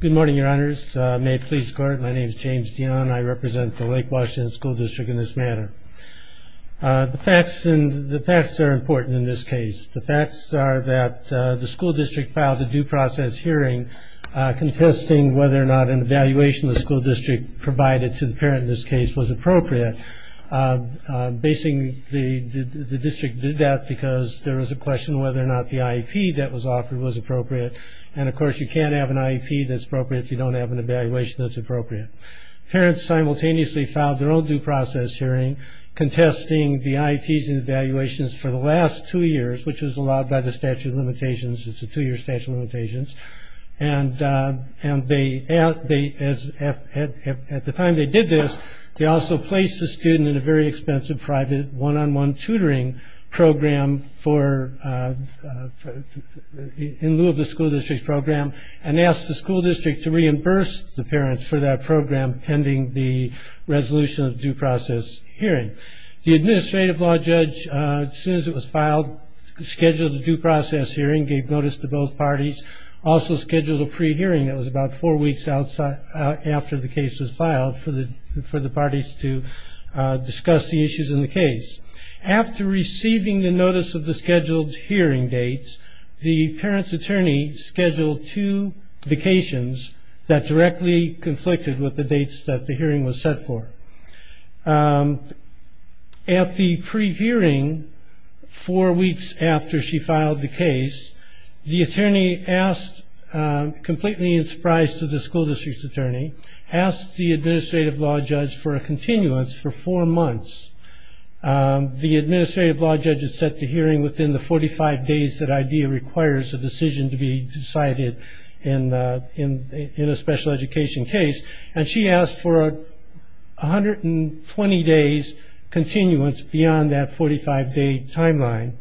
Good morning, your honors. May it please the court, my name is James Dion. I represent the Lake Washington School District in this manner. The facts are important in this case. The facts are that the school district filed a due process hearing contesting whether or not an evaluation the school district provided to the parent in this case was appropriate. Basically the district did that because there was a question whether or not the IEP that can't have an IEP that's appropriate if you don't have an evaluation that's appropriate. Parents simultaneously filed their own due process hearing contesting the IEPs and evaluations for the last two years, which was allowed by the statute of limitations. It's a two-year statute of limitations. At the time they did this, they also placed the student in a very expensive private one-on-one tutoring program in lieu of the school district's program and asked the school district to reimburse the parents for that program pending the resolution of the due process hearing. The administrative law judge, as soon as it was filed, scheduled a due process hearing, gave notice to both parties, also scheduled a pre-hearing that was about four weeks after the case was filed for the parties to discuss the issues in the case. After receiving the notice of the scheduled hearing dates, the parent's attorney scheduled two vacations that directly conflicted with the dates that the hearing was set for. At the pre-hearing, four weeks after she filed the case, the attorney asked, completely in surprise to the school district's attorney, asked the administrative law judge for a continuance for four months. The administrative law judge had set the hearing within the 45 days that requires a decision to be decided in a special education case. She asked for 120 days continuance beyond that 45-day timeline.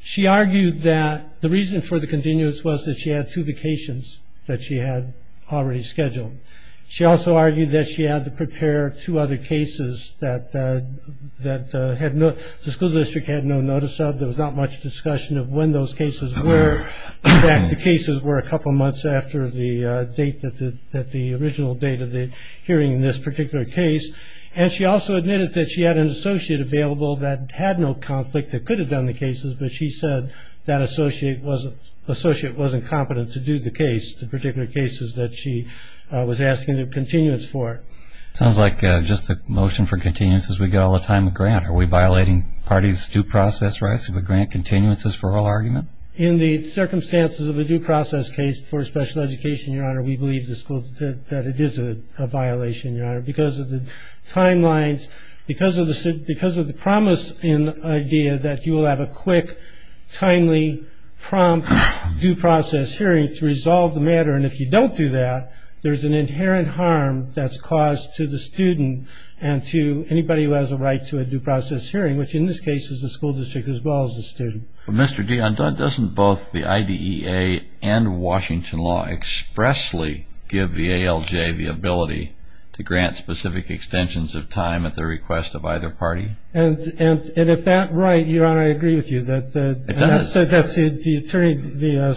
She argued that the reason for the continuance was that she had two vacations that she had already scheduled. She also argued that she had to prepare two other cases that the school district had no notice of. There was not much discussion of when those cases were. In fact, the cases were a couple of months after the date that the original date of the hearing in this particular case. And she also admitted that she had an associate available that had no conflict that could have done the cases, but she said that associate wasn't competent to do the case, the particular cases that she was asking the continuance for. Sounds like just the motion for continuance is we get all the time a grant. Are we violating parties' due process rights if we grant continuances for all argument? In the circumstances of a due process case for special education, Your Honor, we believe the school that it is a violation, Your Honor, because of the timelines, because of the promise in the idea that you will have a quick, timely, prompt due process hearing to resolve the matter. And if you don't do that, there's an inherent harm that's caused to the student and to anybody who has a right to a due process hearing, which in this case is the school district as well as the student. But Mr. Dionne, doesn't both the IDEA and Washington law expressly give the ALJ the ability to grant specific extensions of time at the request of either party? And if that right, Your Honor, I agree with you that the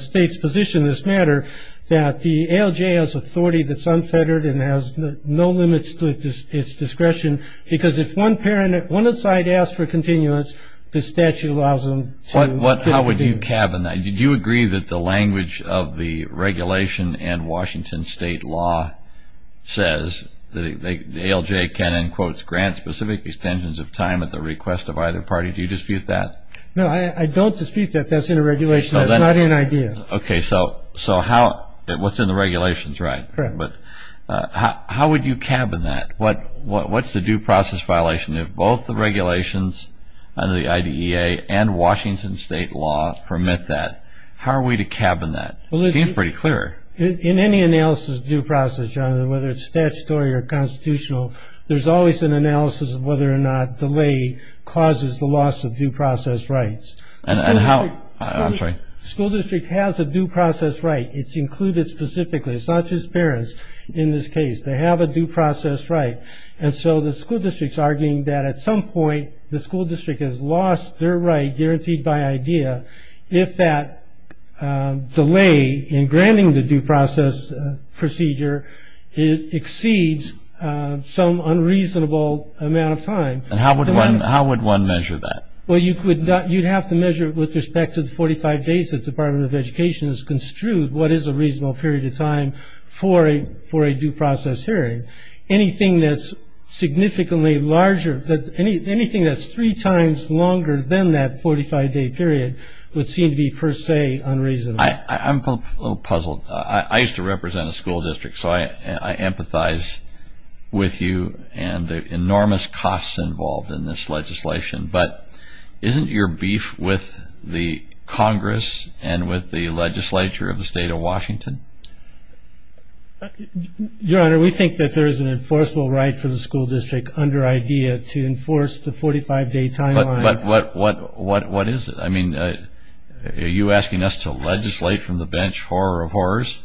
state's position in this matter that the ALJ has authority that's unfettered and has no limits to its discretion, because if one parent, one side asks for continuance, the statute allows them to do so. How would you cabin that? Do you agree that the language of the regulation and Washington state law says that the ALJ can, in quotes, grant specific extensions of time at the request of either party? Do you dispute that? No, I don't dispute that. That's in the regulation. That's not in IDEA. Okay, so what's in the regulation is right. But how would you cabin that? What's the due process violation if both the regulations under the IDEA and Washington state law permit that? How are we to cabin that? It seems pretty clear. In any analysis of due process, Your Honor, whether it's statutory or constitutional, there's always an analysis of whether or not delay causes the loss of due process rights. And how? I'm sorry. School district has a due process right. It's included specifically. It's not just parents in this case. They have a due process right. And so the school district's arguing that at some point the school district has lost their right guaranteed by IDEA if that delay in granting the due process procedure exceeds some unreasonable amount of time. And how would one measure that? Well, you'd have to measure it with respect to the 45 days that the Department of Education has construed what is a reasonable period of time for a due process hearing. Anything that's significantly larger, anything that's three times longer than that 45-day period would seem to be per se unreasonable. I'm a little puzzled. I used to represent a school district, so I empathize with you and the enormous costs involved in this legislation. But isn't your beef with the Congress and with the legislature of the state of Washington? Your Honor, we think that there is an enforceable right for the school district under IDEA to enforce the 45-day timeline. But what is it? I mean, are you asking us to legislate from the bench, horror of horrors?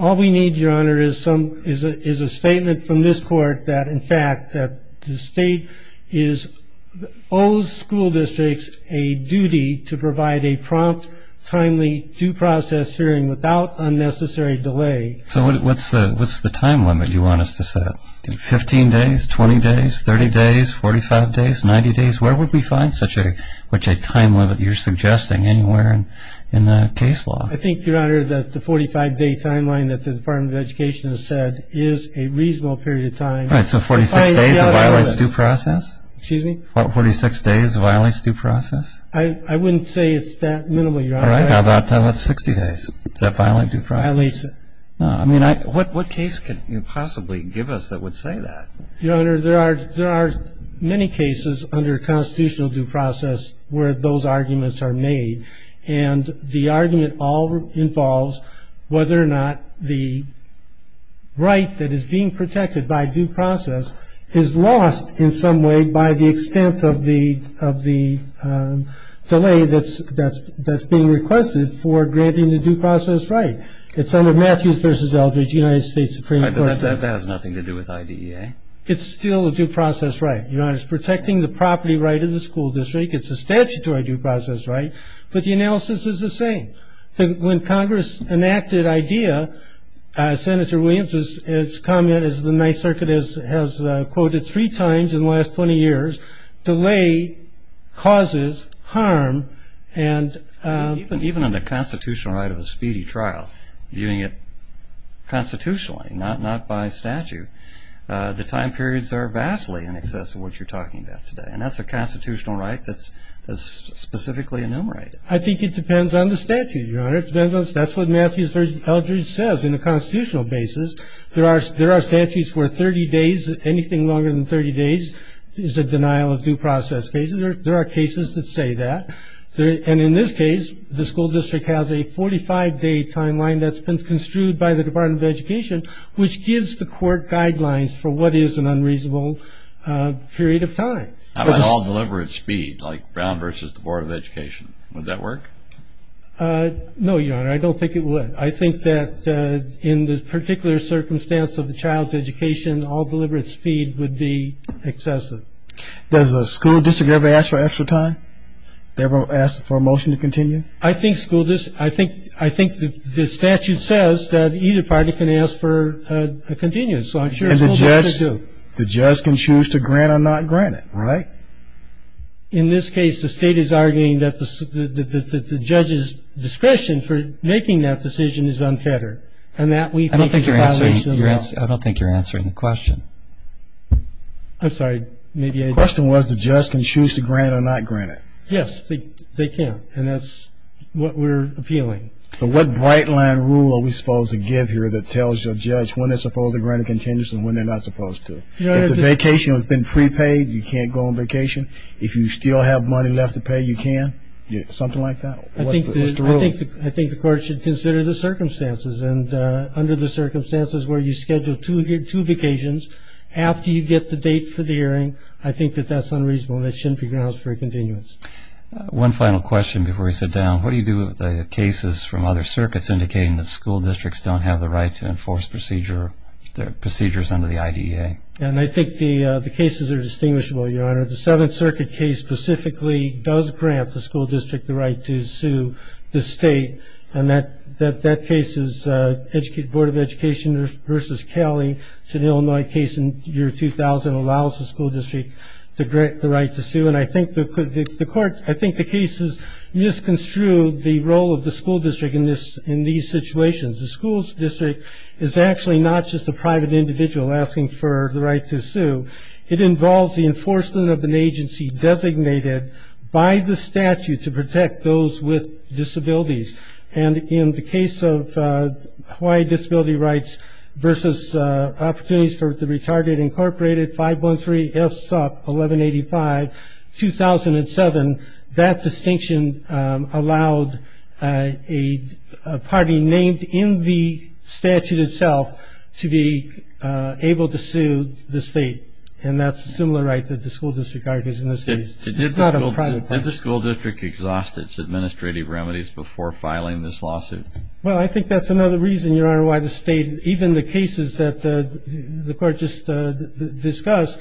All we need, Your Honor, is a statement from this Court that, in fact, the state owes school districts a duty to provide a prompt, timely due process hearing without unnecessary delay. So what's the time limit you want us to set? 15 days, 20 days, 30 days, 45 days, 90 days? Where would we find such a time limit you're suggesting anywhere in the case law? I think, Your Honor, that the 45-day timeline that the Department of Education has said is a reasonable period of time. All right, so 46 days violates due process? Excuse me? What, 46 days violates due process? I wouldn't say it's that minimal, Your Honor. All right, how about 60 days? Does that violate due process? It violates it. No, I mean, what case could you possibly give us that would say that? Your Honor, there are many cases under constitutional due process where those arguments are made. And the argument all involves whether or not the right that is being protected by due process is lost in some way by the extent of the delay that's being requested for granting the due process right. It's under Matthews v. Eldridge, United States Supreme Court. All right, but that has nothing to do with IDEA? It's still a due process right. Your Honor, it's protecting the property right of the defendant, but the analysis is the same. When Congress enacted IDEA, Senator Williams' comment is the Ninth Circuit has quoted three times in the last 20 years, delay causes harm and... Even in the constitutional right of a speedy trial, viewing it constitutionally, not by statute, the time periods are vastly in excess of what you're talking about today. And that's a constitutional right that's specifically enumerated. I think it depends on the statute, Your Honor. That's what Matthews v. Eldridge says in a constitutional basis. There are statutes where 30 days, anything longer than 30 days is a denial of due process case. There are cases that say that. And in this case, the school district has a 45-day timeline that's been construed by the Department of Education, which gives the court guidelines for what is an unreasonable period of time. How about all deliver at speed, like Brown v. Board of Education? Would that work? No, Your Honor, I don't think it would. I think that in this particular circumstance of a child's education, all deliver at speed would be excessive. Does the school district ever ask for extra time? Ever ask for a motion to continue? I think the statute says that either party can ask for a continued, so I'm sure the school district could do. The judge can choose to grant or not grant it, right? In this case, the state is arguing that the judge's discretion for making that decision is unfettered, and that we think the violation of the law. I don't think you're answering the question. I'm sorry, maybe I did. The question was the judge can choose to grant or not grant it. Yes, they can, and that's what we're appealing. So what bright-line rule are we supposed to give here that tells your judge when they're not supposed to? If the vacation has been prepaid, you can't go on vacation. If you still have money left to pay, you can? Something like that? I think the court should consider the circumstances, and under the circumstances where you schedule two vacations after you get the date for the hearing, I think that that's unreasonable, and that shouldn't be grounds for a continuance. One final question before we sit down. What do you do with the cases from other circuits indicating that school districts don't have the right to enforce procedures under the IDEA? And I think the cases are distinguishable, Your Honor. The Seventh Circuit case specifically does grant the school district the right to sue the state, and that case is Board of Education versus Cali. It's an Illinois case in the year 2000. It allows the school district to grant the right to sue, and I think the court, I think the case has misconstrued the role of the school district in these situations. The school district is actually not just a private individual asking for the right to sue. It involves the enforcement of an agency designated by the statute to protect those with disabilities, and in the case of Hawaii Disability Rights versus Opportunities for the Retarded Incorporated, 513-SUP-1185-2007, that distinction allowed a party named in the statute itself to be able to sue the state, and that's a similar right that the school district argues in this case. It's not a private party. Did the school district exhaust its administrative remedies before filing this lawsuit? Well, I think that's another reason, Your Honor, why the state, even the cases that the court just discussed,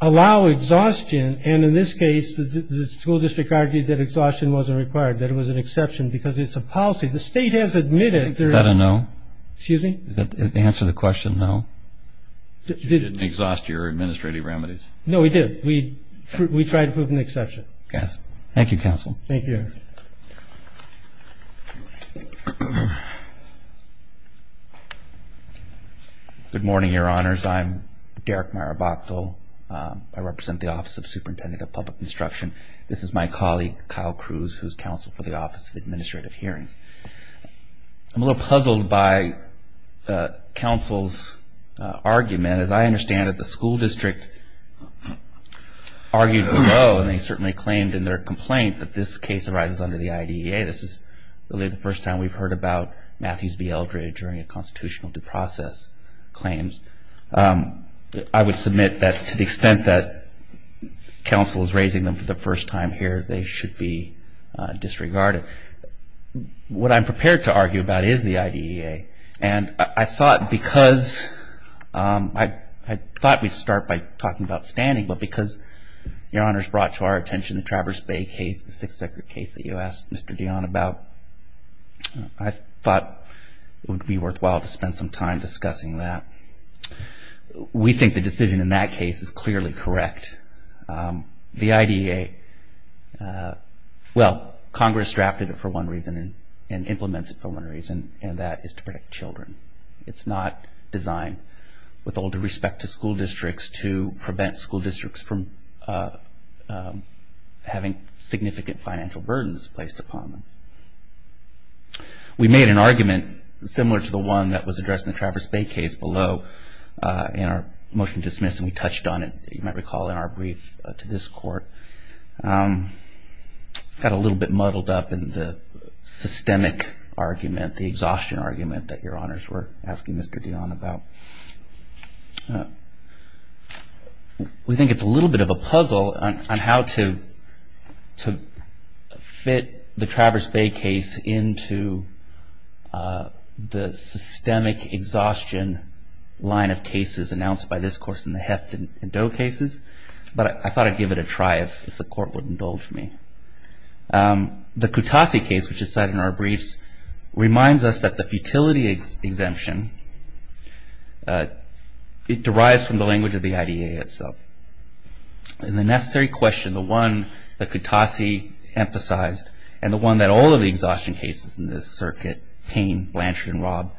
allow exhaustion, and in this case, the school district argued that exhaustion wasn't required, that it was an exception, because it's a policy. The state has admitted there is... Is that a no? Excuse me? Is that the answer to the question, no? You didn't exhaust your administrative remedies? No, we did. Thank you, counsel. Thank you, Your Honor. Thank you. Good morning, Your Honors. I'm Derek Marabato. I represent the Office of Superintendent of Public Instruction. This is my colleague, Kyle Cruz, who's counsel for the Office of Administrative Hearings. I'm a little puzzled by counsel's argument. As I understand it, the school district argued no, and they certainly claimed in their complaint that this case arises under the IDEA. This is really the first time we've heard about Matthews v. Eldred during a constitutional due process claims. I would submit that to the extent that counsel is raising them for the first time here, they should be disregarded. What I'm prepared to argue about is the IDEA, and I thought because... I thought we'd start by talking about standing, but because, Your Honor, it's brought to our attention the case, the Sixth Circuit case that you asked Mr. Dionne about, I thought it would be worthwhile to spend some time discussing that. We think the decision in that case is clearly correct. The IDEA, well, Congress drafted it for one reason and implements it for one reason, and that is to protect children. It's not designed with all due respect to school districts to prevent school districts from having significant financial burdens placed upon them. We made an argument similar to the one that was addressed in the Traverse Bay case below in our motion to dismiss, and we touched on it, you might recall, in our brief to this court. Got a little bit muddled up in the systemic argument, the exhaustion argument that Your Honors were asking Mr. Dionne about. We think it's a little bit of a puzzle on how to fit the Traverse Bay case into the systemic exhaustion line of cases announced by this course in the Heft and Doe cases, but I thought I'd give it a try if the court would indulge me. The Kutasi case, which is cited in our briefs, reminds us that the futility exemption, it derives from the language of the IDEA itself. And the necessary question, the one that Kutasi emphasized, and the one that all of the exhaustion cases in this circuit, Payne, Blanchard, and Rob,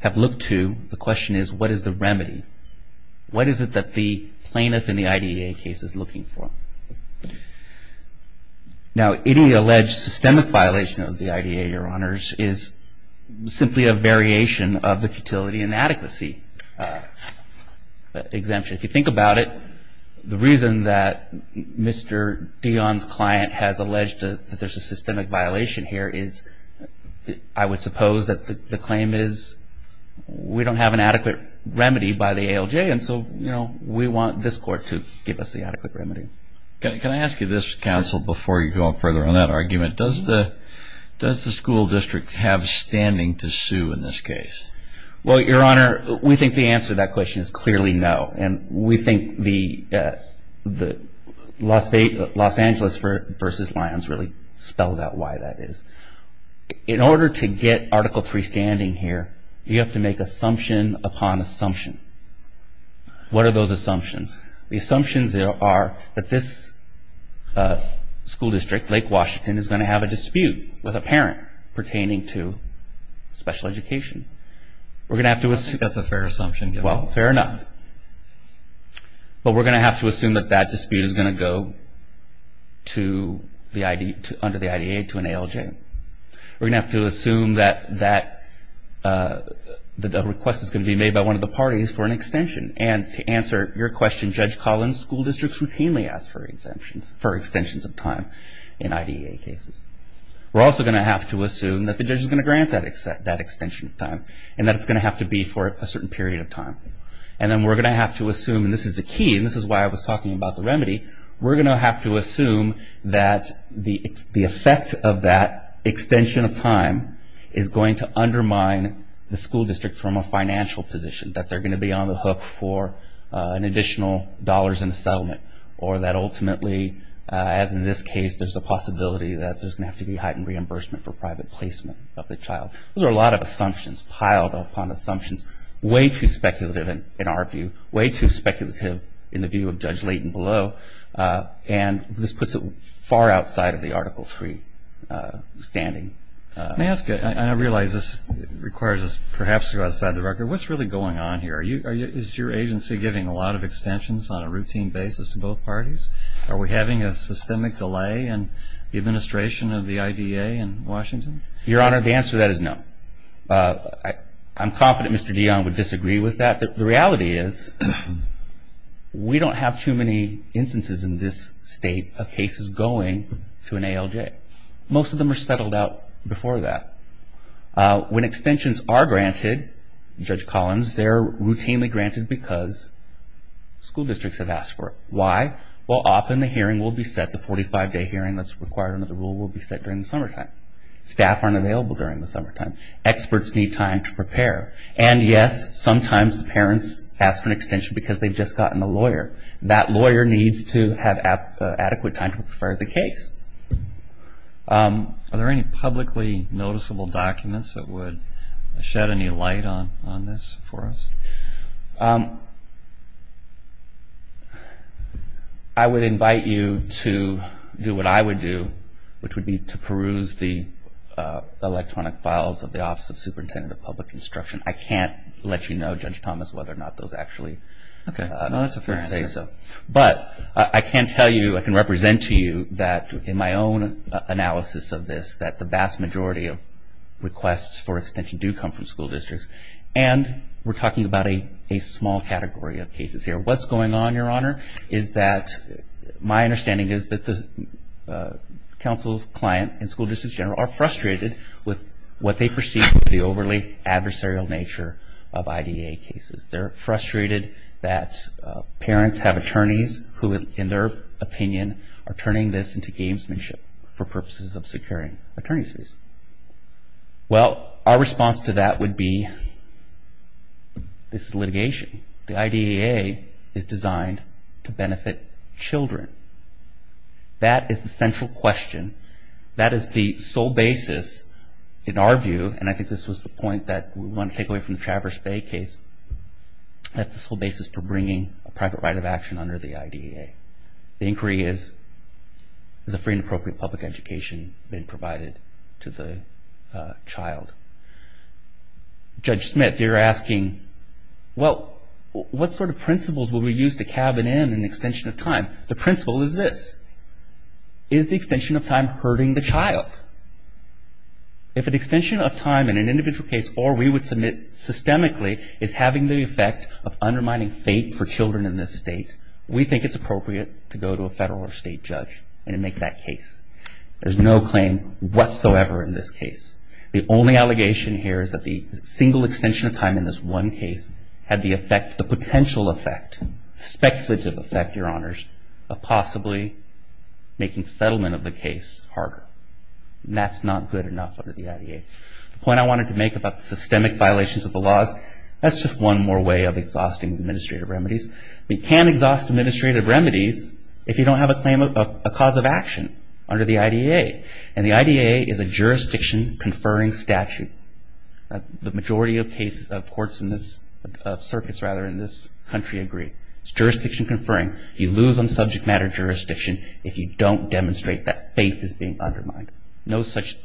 have looked to, the question is what is the remedy? What is it that the plaintiff in the IDEA case is looking for? Now, any alleged systemic violation of the IDEA, Your Honors, is simply a variation of the futility inadequacy exemption. If you think about it, the reason that Mr. Dionne's client has alleged that there's a systemic violation here is I would suppose that the claim is we don't have an adequate remedy. Can I ask you this, counsel, before you go on further on that argument? Does the school district have standing to sue in this case? Well, Your Honor, we think the answer to that question is clearly no. And we think the Los Angeles versus Lyons really spells out why that is. In order to get Article III standing here, you have to make assumption upon assumption. What are those assumptions? The assumptions are that this school district, Lake Washington, is going to have a dispute with a parent pertaining to special education. We're going to have to assume. That's a fair assumption. Well, fair enough. But we're going to have to assume that that dispute is going to go under the IDEA to an ALJ. We're going to have to assume that the request is going to be made by one of the parties for an extension. And to answer your question, Judge Collins, school districts routinely ask for extensions of time in IDEA cases. We're also going to have to assume that the judge is going to grant that extension of time and that it's going to have to be for a certain period of time. And then we're going to have to assume, and this is the key, and this is why I was talking about the remedy, we're going to have to assume that the effect of that extension of time is going to undermine the school district from a financial position, that they're going to be on the hook for an additional dollars in a settlement, or that ultimately, as in this case, there's a possibility that there's going to have to be heightened reimbursement for private placement of the child. Those are a lot of assumptions, piled upon assumptions, way too speculative in our view, way too speculative in the view of Judge Layton below. And this puts it far outside of the Article III standing. Let me ask you, and I realize this requires us perhaps to go outside the record, what's really going on here? Is your agency giving a lot of extensions on a routine basis to both parties? Are we having a systemic delay in the administration of the IDA in Washington? Your Honor, the answer to that is no. I'm confident Mr. Dionne would disagree with that. The reality is we don't have too many instances in this state of cases going to an ALJ. Most of them are settled out before that. When extensions are granted, Judge Collins, they're routinely granted because school districts have asked for it. Why? Well, often the hearing will be set, the 45-day hearing that's required under the rule will be set during the summertime. Staff aren't available during the summertime. Experts need time to prepare. And yes, sometimes the parents ask for an extension because they've just gotten a lawyer. That lawyer needs to have adequate time to prepare the case. Are there any publicly noticeable documents that would shed any light on this for us? I would invite you to do what I would do, which would be to peruse the electronic files of the Office of Superintendent of Public Instruction. I can't let you know, Judge Thomas, whether or not those actually... Okay. No, that's a fair answer. But I can tell you, I can represent to you that in my own analysis of this, that the vast majority of requests for extension do come from school districts. And we're talking about a small category of cases here. What's going on, Your Honor, is that my understanding is that the council's client and school districts general are frustrated with what they perceive as the overly adversarial nature of IDEA cases. They're frustrated that parents have attorneys who, in their opinion, are turning this into gamesmanship for purposes of securing attorney's fees. Well, our response to that would be, this is litigation. The IDEA is designed to benefit children. That is the central question. That is the sole basis, in our view, and I think this was the point that we want to take away from the Traverse Bay case, that's the sole basis for bringing a private right of action under the IDEA. The inquiry is, has a free and appropriate public education been provided to the child? Judge Smith, you're asking, well, what sort of principles will we use to cabin in an extension of time? The principle is this. Is the extension of time hurting the child? If an extension of time in an individual case or we would submit systemically is having the effect of undermining fate for children in this state, we think it's appropriate to go to a federal or state judge and make that case. There's no claim whatsoever in this case. The only allegation here is that the single extension of time in this one case had the potential effect, speculative effect, Your Honors, of possibly making settlement of the case harder. That's not good enough under the IDEA. The point I wanted to make about systemic violations of the law is that's just one more way of exhausting administrative remedies. We can't exhaust administrative remedies if you don't have a claim of a cause of action under the IDEA, and the IDEA is a jurisdiction conferring statute. The majority of cases, of courts in this, of circuits rather, in this country agree. It's jurisdiction conferring. You lose on subject matter jurisdiction if you don't demonstrate that faith is being undermined. No such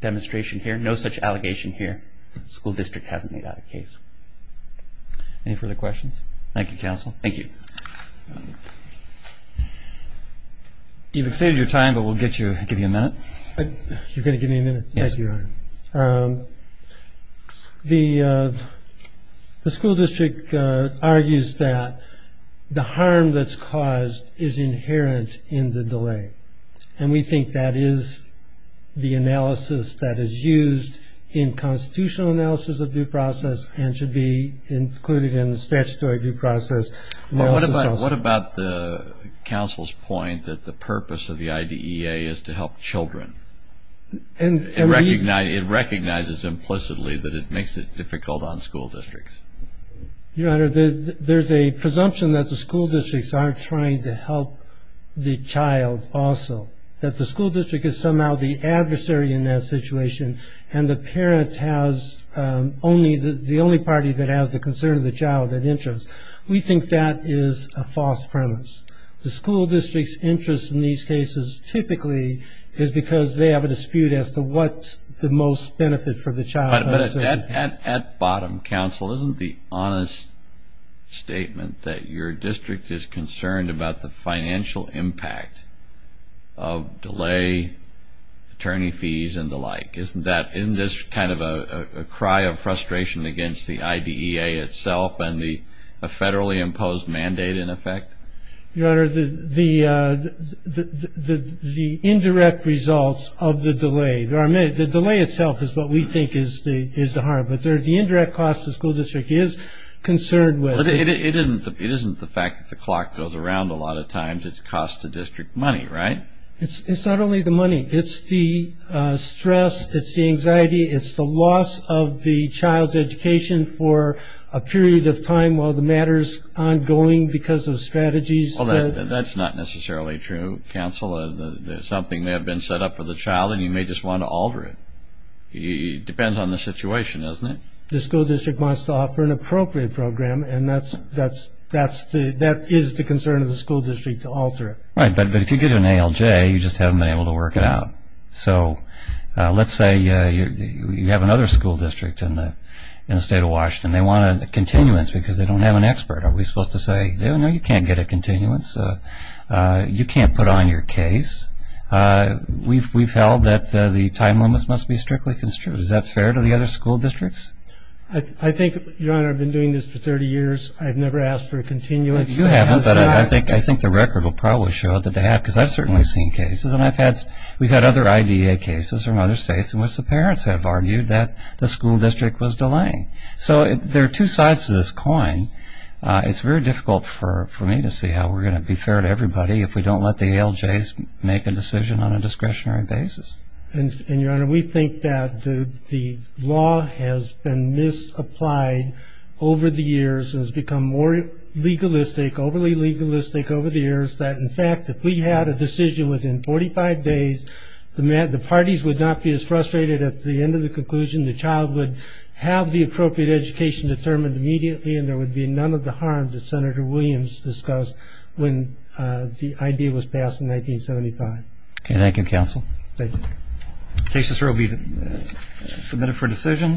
demonstration here. No such allegation here. School district hasn't made out a case. Any further questions? Thank you, counsel. Thank you. You've exceeded your time, but we'll give you a minute. You're going to give me a minute? Yes. Thank you, Your Honor. The school district argues that the harm that's caused is inherent in the delay, and we think that is the analysis that is used in constitutional analysis of due process and should be included in the statutory due process analysis also. What about the counsel's point that the purpose of the IDEA is to help children? It recognizes implicitly that it makes it difficult on school districts. Your Honor, there's a presumption that the school districts aren't trying to help the child also, that the school district is somehow the adversary in that situation, and the parent has only the only party that has the concern of the child that interests. We think that is a false premise. The school district's interest in these cases typically is because they have a dispute as to what's the most benefit for the child. But at bottom, counsel, isn't the honest statement that your district is concerned about the financial impact of delay, attorney fees, and the like, isn't that kind of a cry of frustration against the IDEA itself and the federally imposed mandate in effect? Your Honor, the indirect results of the delay, the delay itself is what we think is the harm, but the indirect cost the school district is concerned with. It isn't the fact that the clock goes around a lot of times, it's cost to district money, right? It's not only the money, it's the stress, it's the anxiety, it's the loss of the child's education for a period of time while the matter's ongoing because of strategies. Well, that's not necessarily true, counsel. There's something that may have been set up for the child and you may just want to alter it. It depends on the situation, doesn't it? The school district wants to offer an appropriate program, and that is the concern of the school district to alter it. Right, but if you get an ALJ, you just haven't been able to work it out. So, let's say you have another school district in the state of Washington. They want a continuance because they don't have an expert. Are we supposed to say, no, you can't get a continuance, you can't put on your case, we've held that the time limits must be strictly construed. Is that fair to the other school districts? I think, Your Honor, I've been doing this for 30 years, I've never asked for a continuance. You haven't, but I think the record will probably show that they have because I've certainly seen cases, and I've had, we've had other IDA cases from other states in which the parents have argued that the school district was delaying. So, there are two sides to this coin. It's very difficult for me to see how we're going to be fair to everybody if we don't let the ALJs make a decision on a discretionary basis. And, Your Honor, we think that the law has been misapplied over the years and has become more legalistic, overly legalistic over the years that, in fact, if we had a decision within 45 days, the parties would not be as frustrated at the end of the conclusion, the child would have the appropriate education determined immediately, and there would be none of the harm that Senator Williams discussed when the idea was passed in 1975. Okay, thank you, Counsel. Thank you. The case is submitted for decision.